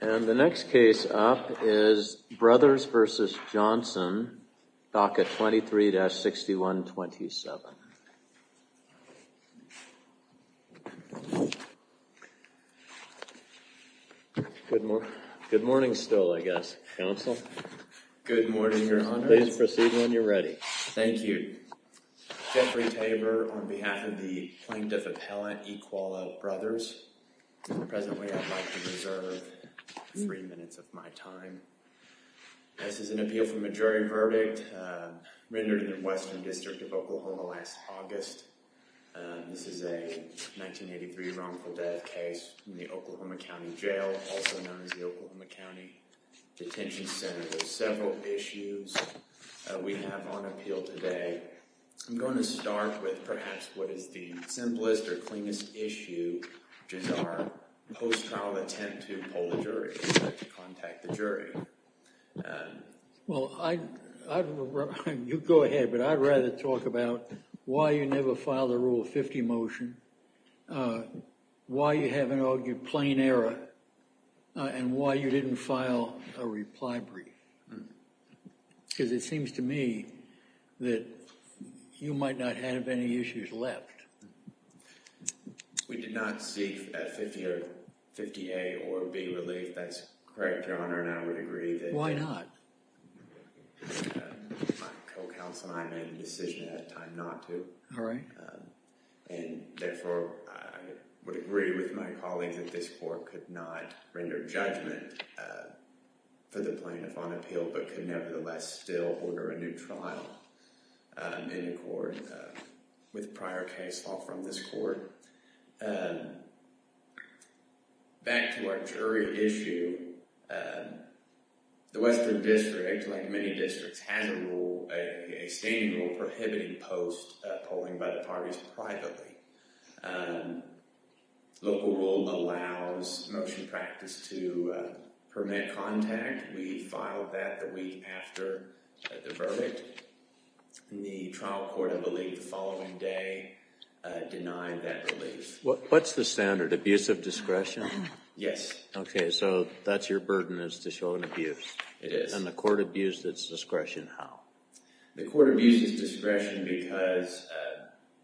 And the next case up is Brothers v. Johnson, DACA 23-6127. Good morning. Good morning still, I guess, Counsel. Good morning, Your Honor. Please proceed when you're ready. Thank you. Jeffrey Tabor on behalf of the plaintiff appellant, E. Koala Brothers. Presently, I'd like to reserve three minutes of my time. This is an appeal for a jury verdict rendered in the Western District of Oklahoma last August. This is a 1983 wrongful death case in the Oklahoma County Jail, also known as the Oklahoma County Detention Center. There's several issues we have on appeal today. I'm going to start with perhaps what is the issue in our post-trial attempt to poll the jury, to contact the jury. Well, you go ahead, but I'd rather talk about why you never filed a Rule 50 motion, why you haven't argued plain error, and why you didn't file a reply brief. Because it seems to me that you might not have any issues left. We did not seek a 50A or a B relief. That's correct, Your Honor, and I would agree that Why not? My co-counsel and I made the decision at that time not to. All right. And therefore, I would agree with my colleagues that this court could not render judgment for the plaintiff on appeal, but could nevertheless still order a new trial in accord with prior case law from this court. Back to our jury issue, the Western District, like many districts, has a rule, a standing rule, prohibiting post polling by the parties privately. Local rule allows motion practice to permit contact. We filed that the week after the What's the standard, abuse of discretion? Yes. Okay, so that's your burden is to show an abuse. It is. And the court abused its discretion how? The court abused its discretion because,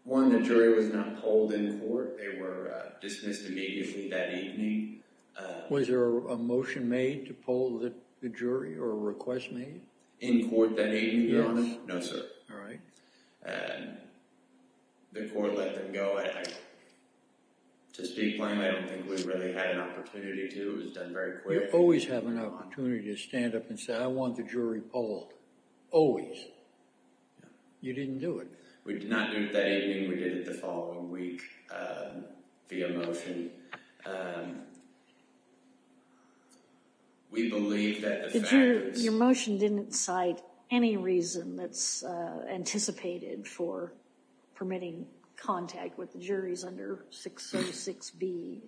one, the jury was not polled in court. They were dismissed immediately that evening. Was there a motion made to poll the jury or a request made? In court that evening, Your Honor? No, sir. All right. The court let them go. To speak plainly, I don't think we really had an opportunity to. It was done very quickly. You always have an opportunity to stand up and say, I want the jury polled. Always. You didn't do it. We did not do it that evening. We did it the that's anticipated for permitting contact with the juries under 606B.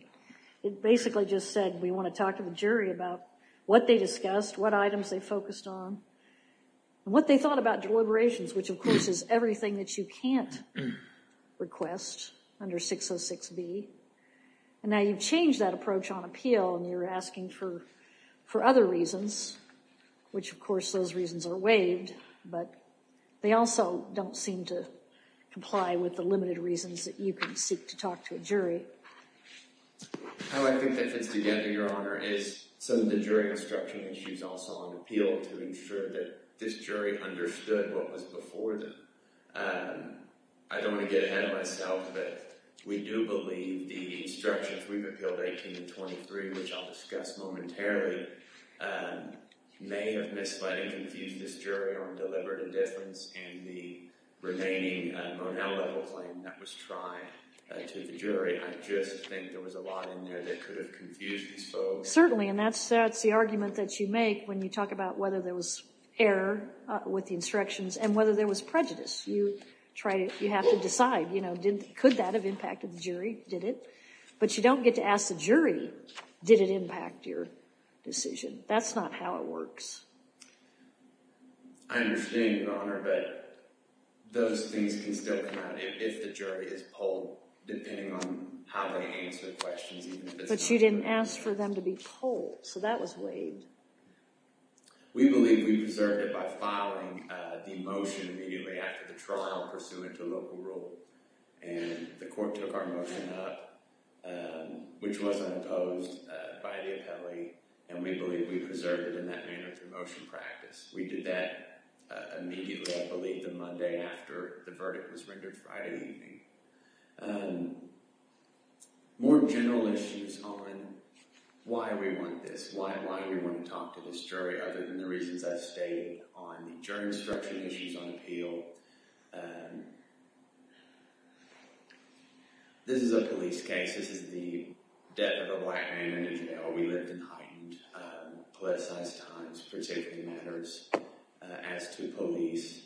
It basically just said, we want to talk to the jury about what they discussed, what items they focused on, what they thought about deliberations, which, of course, is everything that you can't request under 606B. And now you've changed that approach on appeal and you're asking for other reasons, which, of course, those reasons are waived, but they also don't seem to comply with the limited reasons that you can seek to talk to a jury. How I think that fits together, Your Honor, is some of the jury instruction issues also on appeal to ensure that this jury understood what was before them. I don't want to get ahead of myself, but we do believe the jury may have misled and confused this jury on deliberate indifference and the remaining Monell-level claim that was tried to the jury. I just think there was a lot in there that could have confused these folks. Certainly, and that's the argument that you make when you talk about whether there was error with the instructions and whether there was prejudice. You try to, you have to decide, you know, could that have impacted the jury? Did it? But you don't get to ask the jury, did it impact your decision? That's not how it works. I understand, Your Honor, but those things can still come out if the jury is polled, depending on how they answer the questions. But you didn't ask for them to be polled, so that was waived. We believe we preserved it by filing the motion immediately after the trial pursuant to local rule, and the court took our motion up, which was imposed by the appellee, and we believe we preserved it in that manner through motion practice. We did that immediately, I believe, the Monday after the verdict was rendered Friday evening. More general issues on why we want this, why we want to talk to this jury other than the reasons I've stated on the jury instruction issues on appeal. This is a police case. This is the death of a black man in jail. We lived in heightened, politicized times for safety matters. As to police,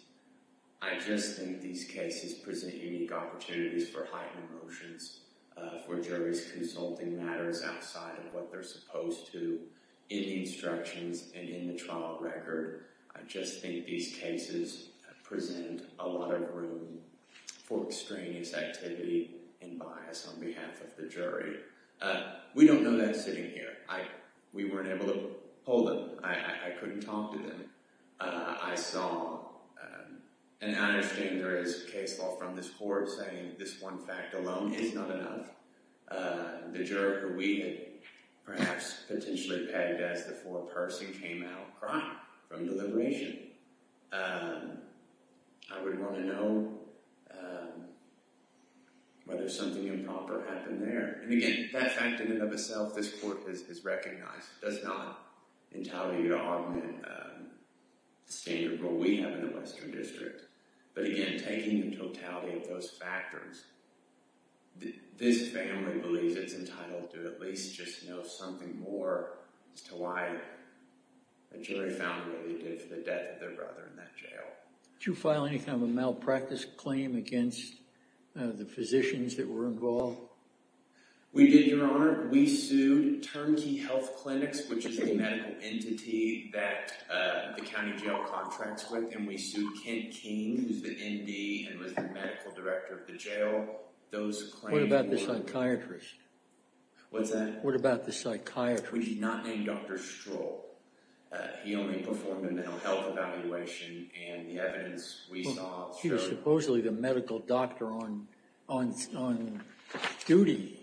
I just think these cases present unique opportunities for heightened emotions, for juries consulting matters outside of what they're supposed to in the instructions and in the trial record. I just think these cases present a lot of room for extraneous activity and bias on behalf of the jury. We don't know that sitting here. We weren't able to poll them. I couldn't talk to them. I saw, and I understand there is case law from this court saying this one fact alone is not enough. The juror who we had perhaps potentially pegged as the foreperson came out crying from deliberation. I would want to know whether something improper happened there. And again, that fact in and of itself, this court has recognized, does not entail you to augment the standard rule we have in the Western District. But again, taking the totality of those factors, this family believes it's entitled to at least just know something more as to why a jury found what they did for the death of their brother in that jail. Did you file any kind of a malpractice claim against the physicians that were involved? We did, Your Honor. We sued Turnkey Health Clinics, which is the medical entity that the county jail contracts with. And we sued Kent King, who's the MD and was the medical director of the jail. Those claims were- What about the psychiatrist? What's that? What about the psychiatrist? We did not name Dr. Struhl. He only performed a mental health evaluation and the evidence we saw- He was supposedly the medical doctor on duty.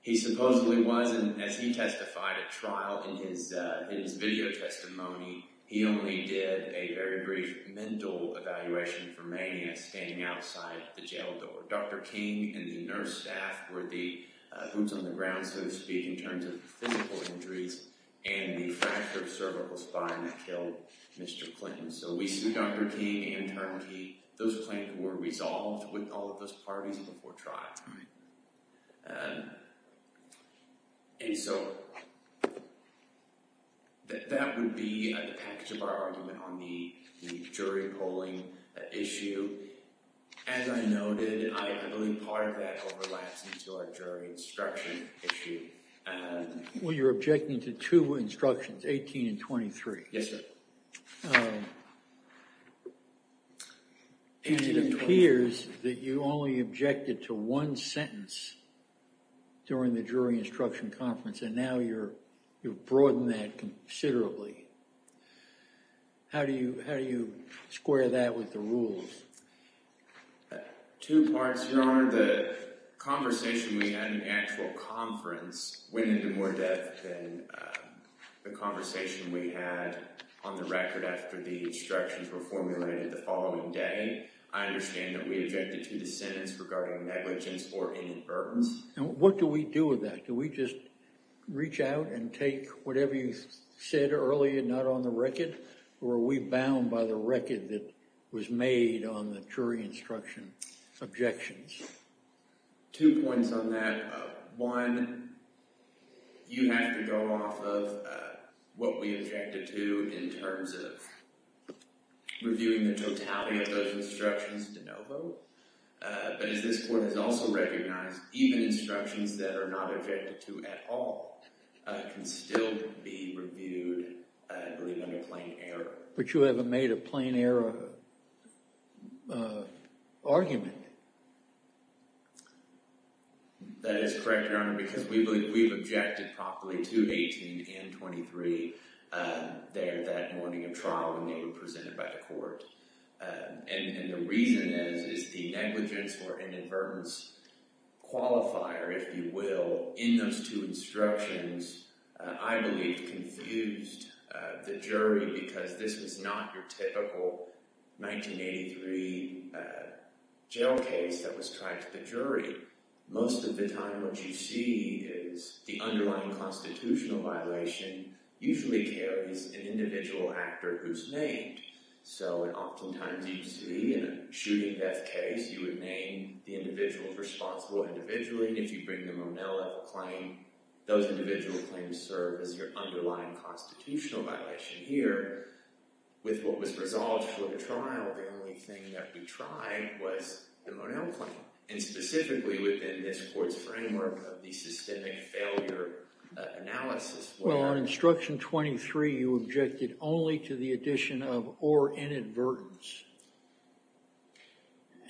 He supposedly was. And as he testified at trial in his video testimony, he only did a very brief mental evaluation for mania staying outside the jail door. Dr. King and the nurse staff were the boots on the ground, so to speak, in terms of physical injuries and the fracture of cervical spine that killed Mr. Clinton. So we sued Dr. King and Turnkey. Those claims were resolved with all parties before trial. And so that would be the package of our argument on the jury polling issue. As I noted, I believe part of that overlaps into our jury instruction issue. Well, you're objecting to two instructions, 18 and 23. Yes, sir. And it appears that you only objected to one sentence during the jury instruction conference, and now you've broadened that considerably. How do you square that with the rules? Two parts. Your Honor, the conversation we had in the actual conference went into more depth than the conversation we had on the record after the instructions were formulated the following day. I understand that we objected to the sentence regarding negligence or inadvertence. And what do we do with that? Do we just reach out and take whatever you said earlier not on the record? Or are we bound by the record that was made on the jury instruction objections? Two points on that. One, you have to go off of what we objected to in terms of reviewing the totality of those instructions de novo. But as this Court has also recognized, even instructions that are not objected to at all can still be reviewed, I believe, under plain error. But you haven't made a plain error argument. That is correct, Your Honor, because we've objected properly to 18 and 23 there that morning of trial when they were presented by the Court. And the reason is the negligence or inadvertence qualifier, if you will, in those two instructions, I believe, confused the jury because this was not your typical 1983 jail case that was tried to the jury. Most of the time what you see is the underlying constitutional violation usually carries an individual actor who's named. So oftentimes you see in a shooting death case, you would name the individual responsible individually. If you bring the Monella claim, those individual claims serve as your underlying constitutional violation here. With what was resolved for the trial, the only thing that we tried was the Monella claim. And specifically within this Court's framework of the systemic failure analysis. Well, on instruction 23, you objected only to the addition of or inadvertence.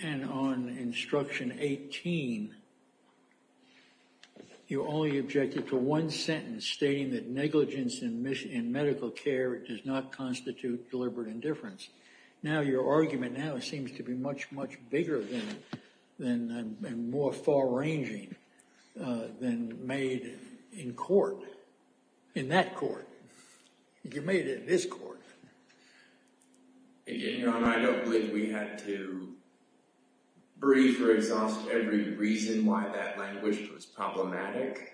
And on instruction 18, you only objected to one sentence stating that negligence in medical care does not constitute deliberate indifference. Now your argument now seems to be much, much bigger than and more far-ranging than made in court, in that court. You made it in this court. Again, Your Honor, I don't believe we had to brief or exhaust every reason why that language was problematic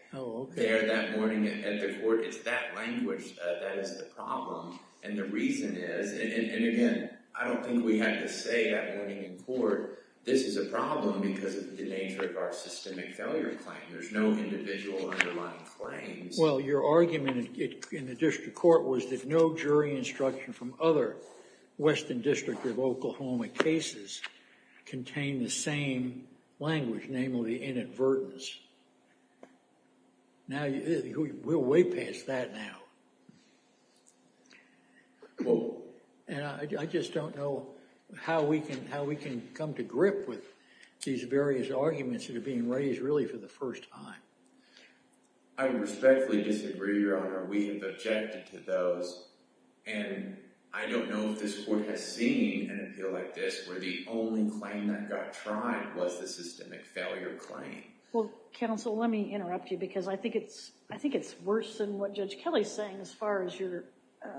there that morning at the court. It's that language that is the problem. And the reason is, and again, I don't think we had to say that morning in court, this is a problem because of the nature of our systemic failure claim. There's no individual underlying claims. Well, your argument in the district court was that no instruction from other Western District of Oklahoma cases contained the same language, namely inadvertence. Now, we're way past that now. And I just don't know how we can come to grip with these various arguments that are being raised really for the first time. I respectfully disagree, Your Honor. We have objected to those and I don't know if this court has seen an appeal like this where the only claim that got tried was the systemic failure claim. Well, counsel, let me interrupt you because I think it's worse than what Judge Kelly's saying as far as you're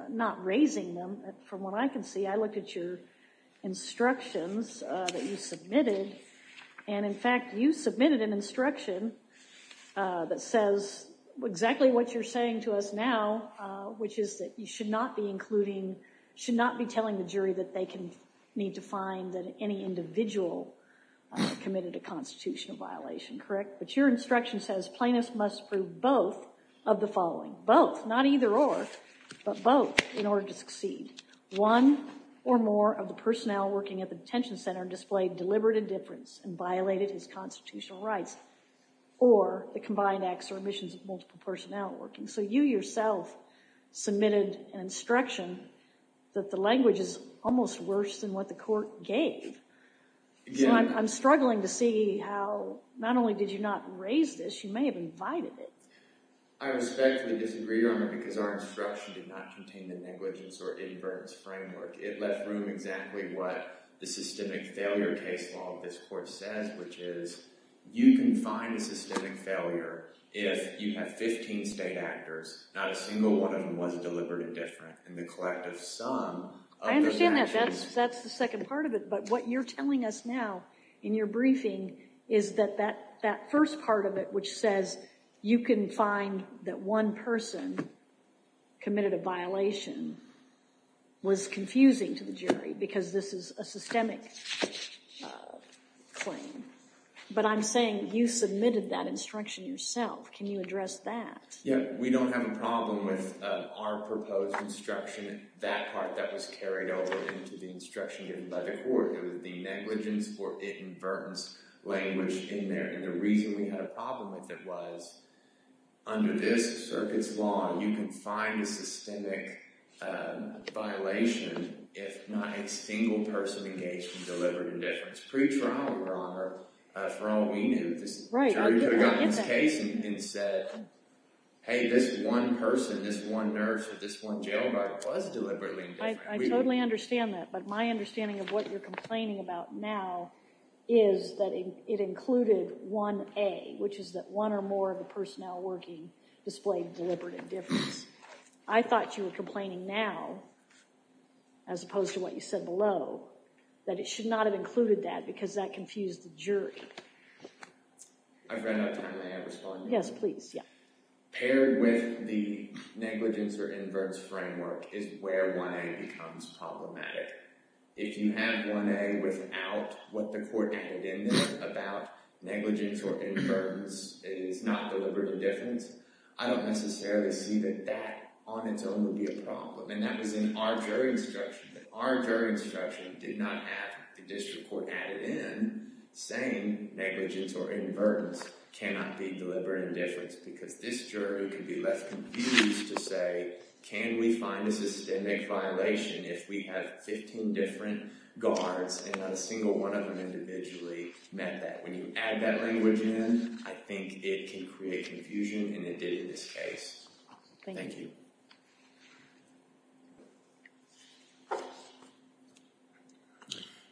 not raising them. From what I can see, I looked at your instructions that you submitted and, in fact, you submitted an instruction that says exactly what you're saying to us now, which is that you should not be including, should not be telling the jury that they can need to find that any individual committed a constitutional violation, correct? But your instruction says plaintiffs must prove both of the following, both, not either or, but both in order to succeed. One or more of the personnel working at the detention center displayed deliberate indifference and violated his multiple personnel working. So you yourself submitted an instruction that the language is almost worse than what the court gave. So I'm struggling to see how not only did you not raise this, you may have invited it. I respectfully disagree, Your Honor, because our instruction did not contain the negligence or indifference framework. It left room exactly what the systemic failure case law of this court says, which is you can find systemic failure if you have 15 state actors, not a single one of them was deliberate indifference, and the collective sum of those actions. I understand that. That's the second part of it. But what you're telling us now in your briefing is that that first part of it, which says you can find that one person committed a violation, was confusing to the jury because this is a systemic claim. But I'm saying you submitted that instruction yourself. Can you address that? Yeah, we don't have a problem with our proposed instruction, that part that was carried over into the instruction given by the court. It was the negligence or inadvertence language in there, and the reason we had a problem with it was under this circuit's law, you can find a systemic violation if not a single person engaged in deliberate indifference. Pre-trial, Your Honor, for all we knew, this jury could have gotten this case and said, hey, this one person, this one nurse, or this one jail guard was deliberately indifferent. I totally understand that, but my understanding of what you're complaining about now is that it included 1A, which is that one or more of the personnel working displayed deliberate indifference. I thought you were complaining now, as opposed to what you said below, that it should not have included that because that confused the jury. I've ran out of time. May I respond? Yes, please. Paired with the negligence or inadvertence framework is where 1A becomes problematic. If you have 1A without what the court added in there about negligence or inadvertence, it is not deliberate indifference, I don't necessarily see that that on its own would be a problem, and that was in our jury instruction. Our jury instruction did not have the district court added in saying negligence or inadvertence cannot be deliberate indifference because this jury could be left confused to say, can we find a systemic violation if we have 15 different guards and not a single one of them individually met that? When you add that language in, I think it can create confusion, and it did in this case. Thank you.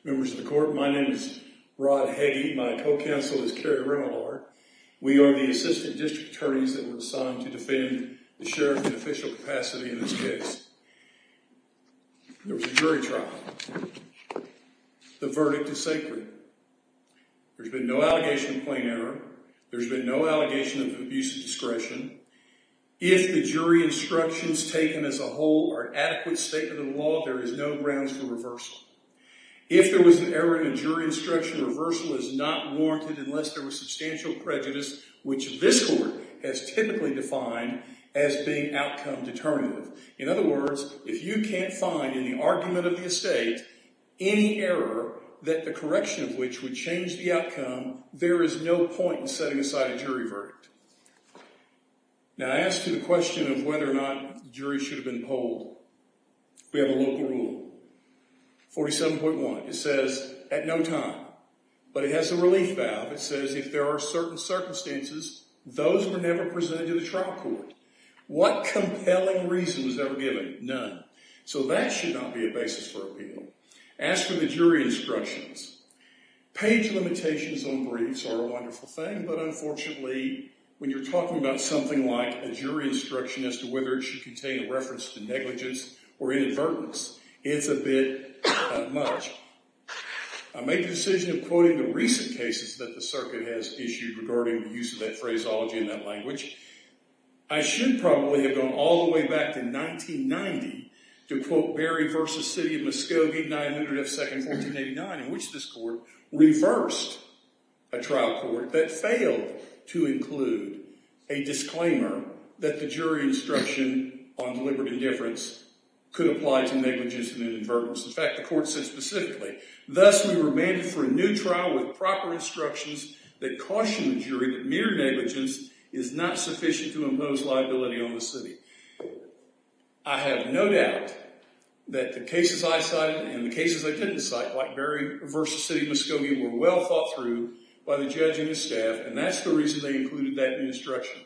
Members of the court, my name is Rod Heggie. My co-counsel is Kerry Rinalhard. We are the assistant district attorneys that were assigned to defend the sheriff in official capacity in this case. There was a jury trial. The verdict is sacred. There's been no allegation of plain error. There's been no allegation of abuse of discretion. If the jury instructions taken as a whole are an adequate statement of the law, there is no grounds for reversal. If there was an error in a jury instruction, reversal is not warranted unless there was substantial prejudice, which this court has typically defined as being outcome determinative. In other words, if you can't find in the argument of the estate any error that the correction of which would change the outcome, there is no point in setting aside a jury verdict. Now, I asked you the question of whether or not the jury should have been polled. We have a local rule, 47.1. It says at no time, but it has a relief valve. It says if there are certain circumstances, those were never presented to the trial court. What compelling reason was ever given? None. So that should not be a basis for appeal. Ask for the jury instructions. Page limitations on briefs are a wonderful thing, but unfortunately, when you're talking about something like a jury instruction as to whether it should contain a reference to negligence or inadvertence, it's a bit much. I made the decision of quoting the recent cases that the circuit has issued regarding the use of that phraseology in that language. I should probably have gone all the way back to 1990 to quote Berry v. City of Muskogee, 900 F. 2nd, 1489, in which this court reversed a trial court that failed to include a disclaimer that the jury instruction on deliberate indifference could apply to negligence and inadvertence. In fact, the court said specifically, thus we were mandated for a new trial with proper instructions that caution the jury that mere negligence is not sufficient to impose liability on the city. I have no doubt that the cases I cited and the cases I didn't cite, like Berry v. City of Muskogee, were well thought through by the judge and his staff, and that's the reason they included that in the instruction.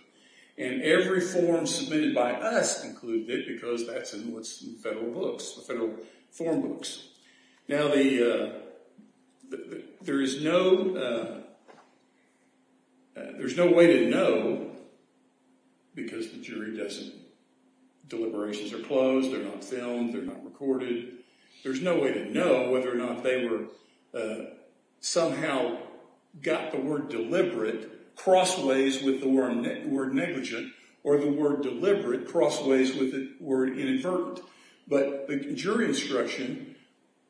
Every form submitted by us included it because that's in what's in the federal books, the federal form books. Now, there is no way to know because the jury doesn't. Deliberations are closed. They're not filmed. They're not recorded. There's no way to know whether or not they somehow got the word deliberate crossways with the word negligent or the word deliberate crossways with the word inadvertent. But the jury instruction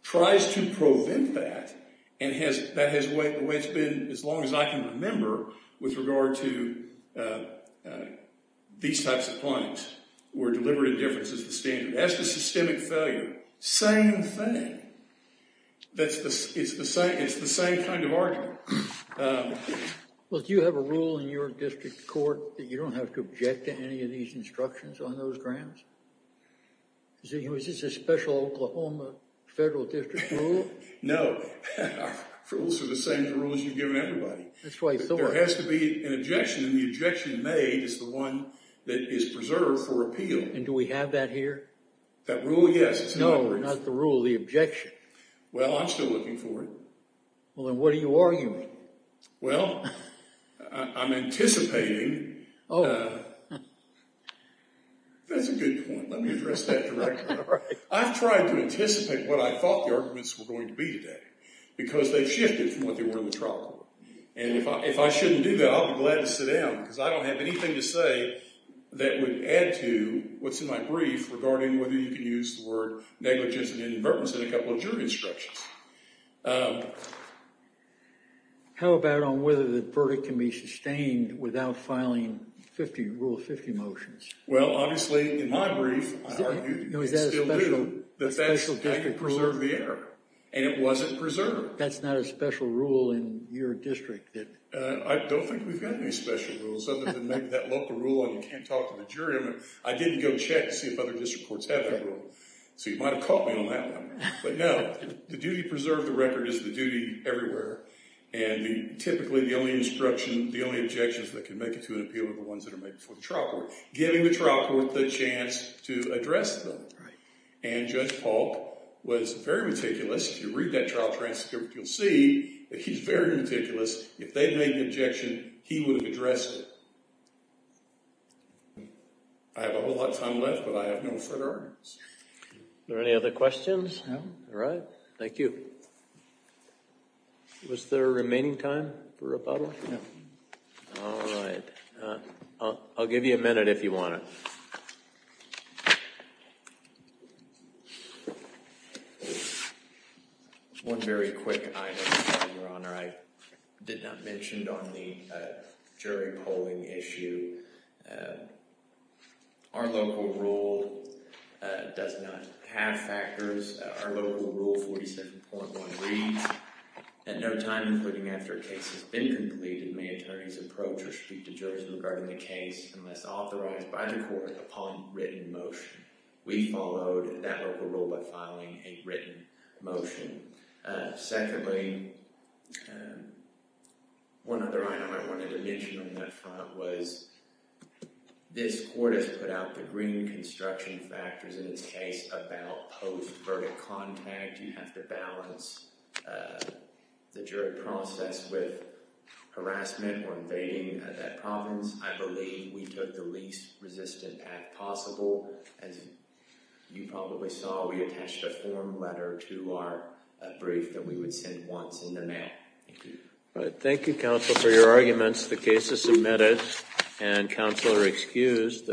tries to prevent that, and that has been the way it's been as long as I can remember with regard to these types of claims where deliberate indifference is the standard. That's the systemic failure. Same thing. It's the same kind of argument. Well, do you have a rule in your district court that you don't have to object to any of these instructions on those grounds? Is this a special Oklahoma federal district rule? No. Our rules are the same as the rules you've given everybody. That's what I thought. There has to be an objection, and the objection made is the one that is preserved for appeal. And do we have that here? That rule? Yes. No, not the rule. The objection. Well, I'm still looking for it. Well, then what are you arguing? Well, I'm anticipating. That's a good point. Let me address that directly. I've tried to anticipate what I thought the arguments were going to be today because they've shifted from what they were in the trial court. And if I shouldn't do that, I'll be glad to sit down because I don't have anything to say that would add to what's in my brief regarding whether you can use the word negligence and indifference in a couple of jury instructions. How about on whether the verdict can be sustained without filing Rule 50 motions? Well, obviously, in my brief, I argue you can still do, but that's how you preserve the error. And it wasn't preserved. That's not a special rule in your district? I don't think we've got any special rules other than maybe that local rule on you can't talk to the jury. And I didn't go check to see if other district courts have that rule. So you might have caught me on that one. But no, the duty to preserve the record is the duty everywhere. And typically, the only instruction, the only objections that can make it to an appeal are the ones that are made before the trial court. Giving the trial court the chance to address them. And Judge Paul was very meticulous. If you read that trial transcript, you'll see that he's very meticulous. If they'd made an objection, he would have addressed it. I have a whole lot of time left, but I have no further arguments. Are there any other questions? No. All right. Thank you. Was there a remaining time for rebuttal? No. All right. I'll give you a minute if you want to. One very quick item, Your Honor. I did not mention on the jury polling issue. Our local rule does not have factors. Our local rule 47.1 reads, at no time including after a case has been completed, may attorneys approach or speak to jurors regarding the case unless authorized by the court upon written motion. We followed that local rule by filing a written motion. Secondly, one other item I wanted to mention on that front was, this court has put out the green construction factors in its case about post-verdict contact. You have to balance the jury process with harassment or invading that province. I believe we took the least resistant act possible. As you probably saw, we attached a form letter to our brief that we would send once in the mail. Thank you. All right. Thank you, counsel, for your arguments. The case is submitted, and counsel are excused.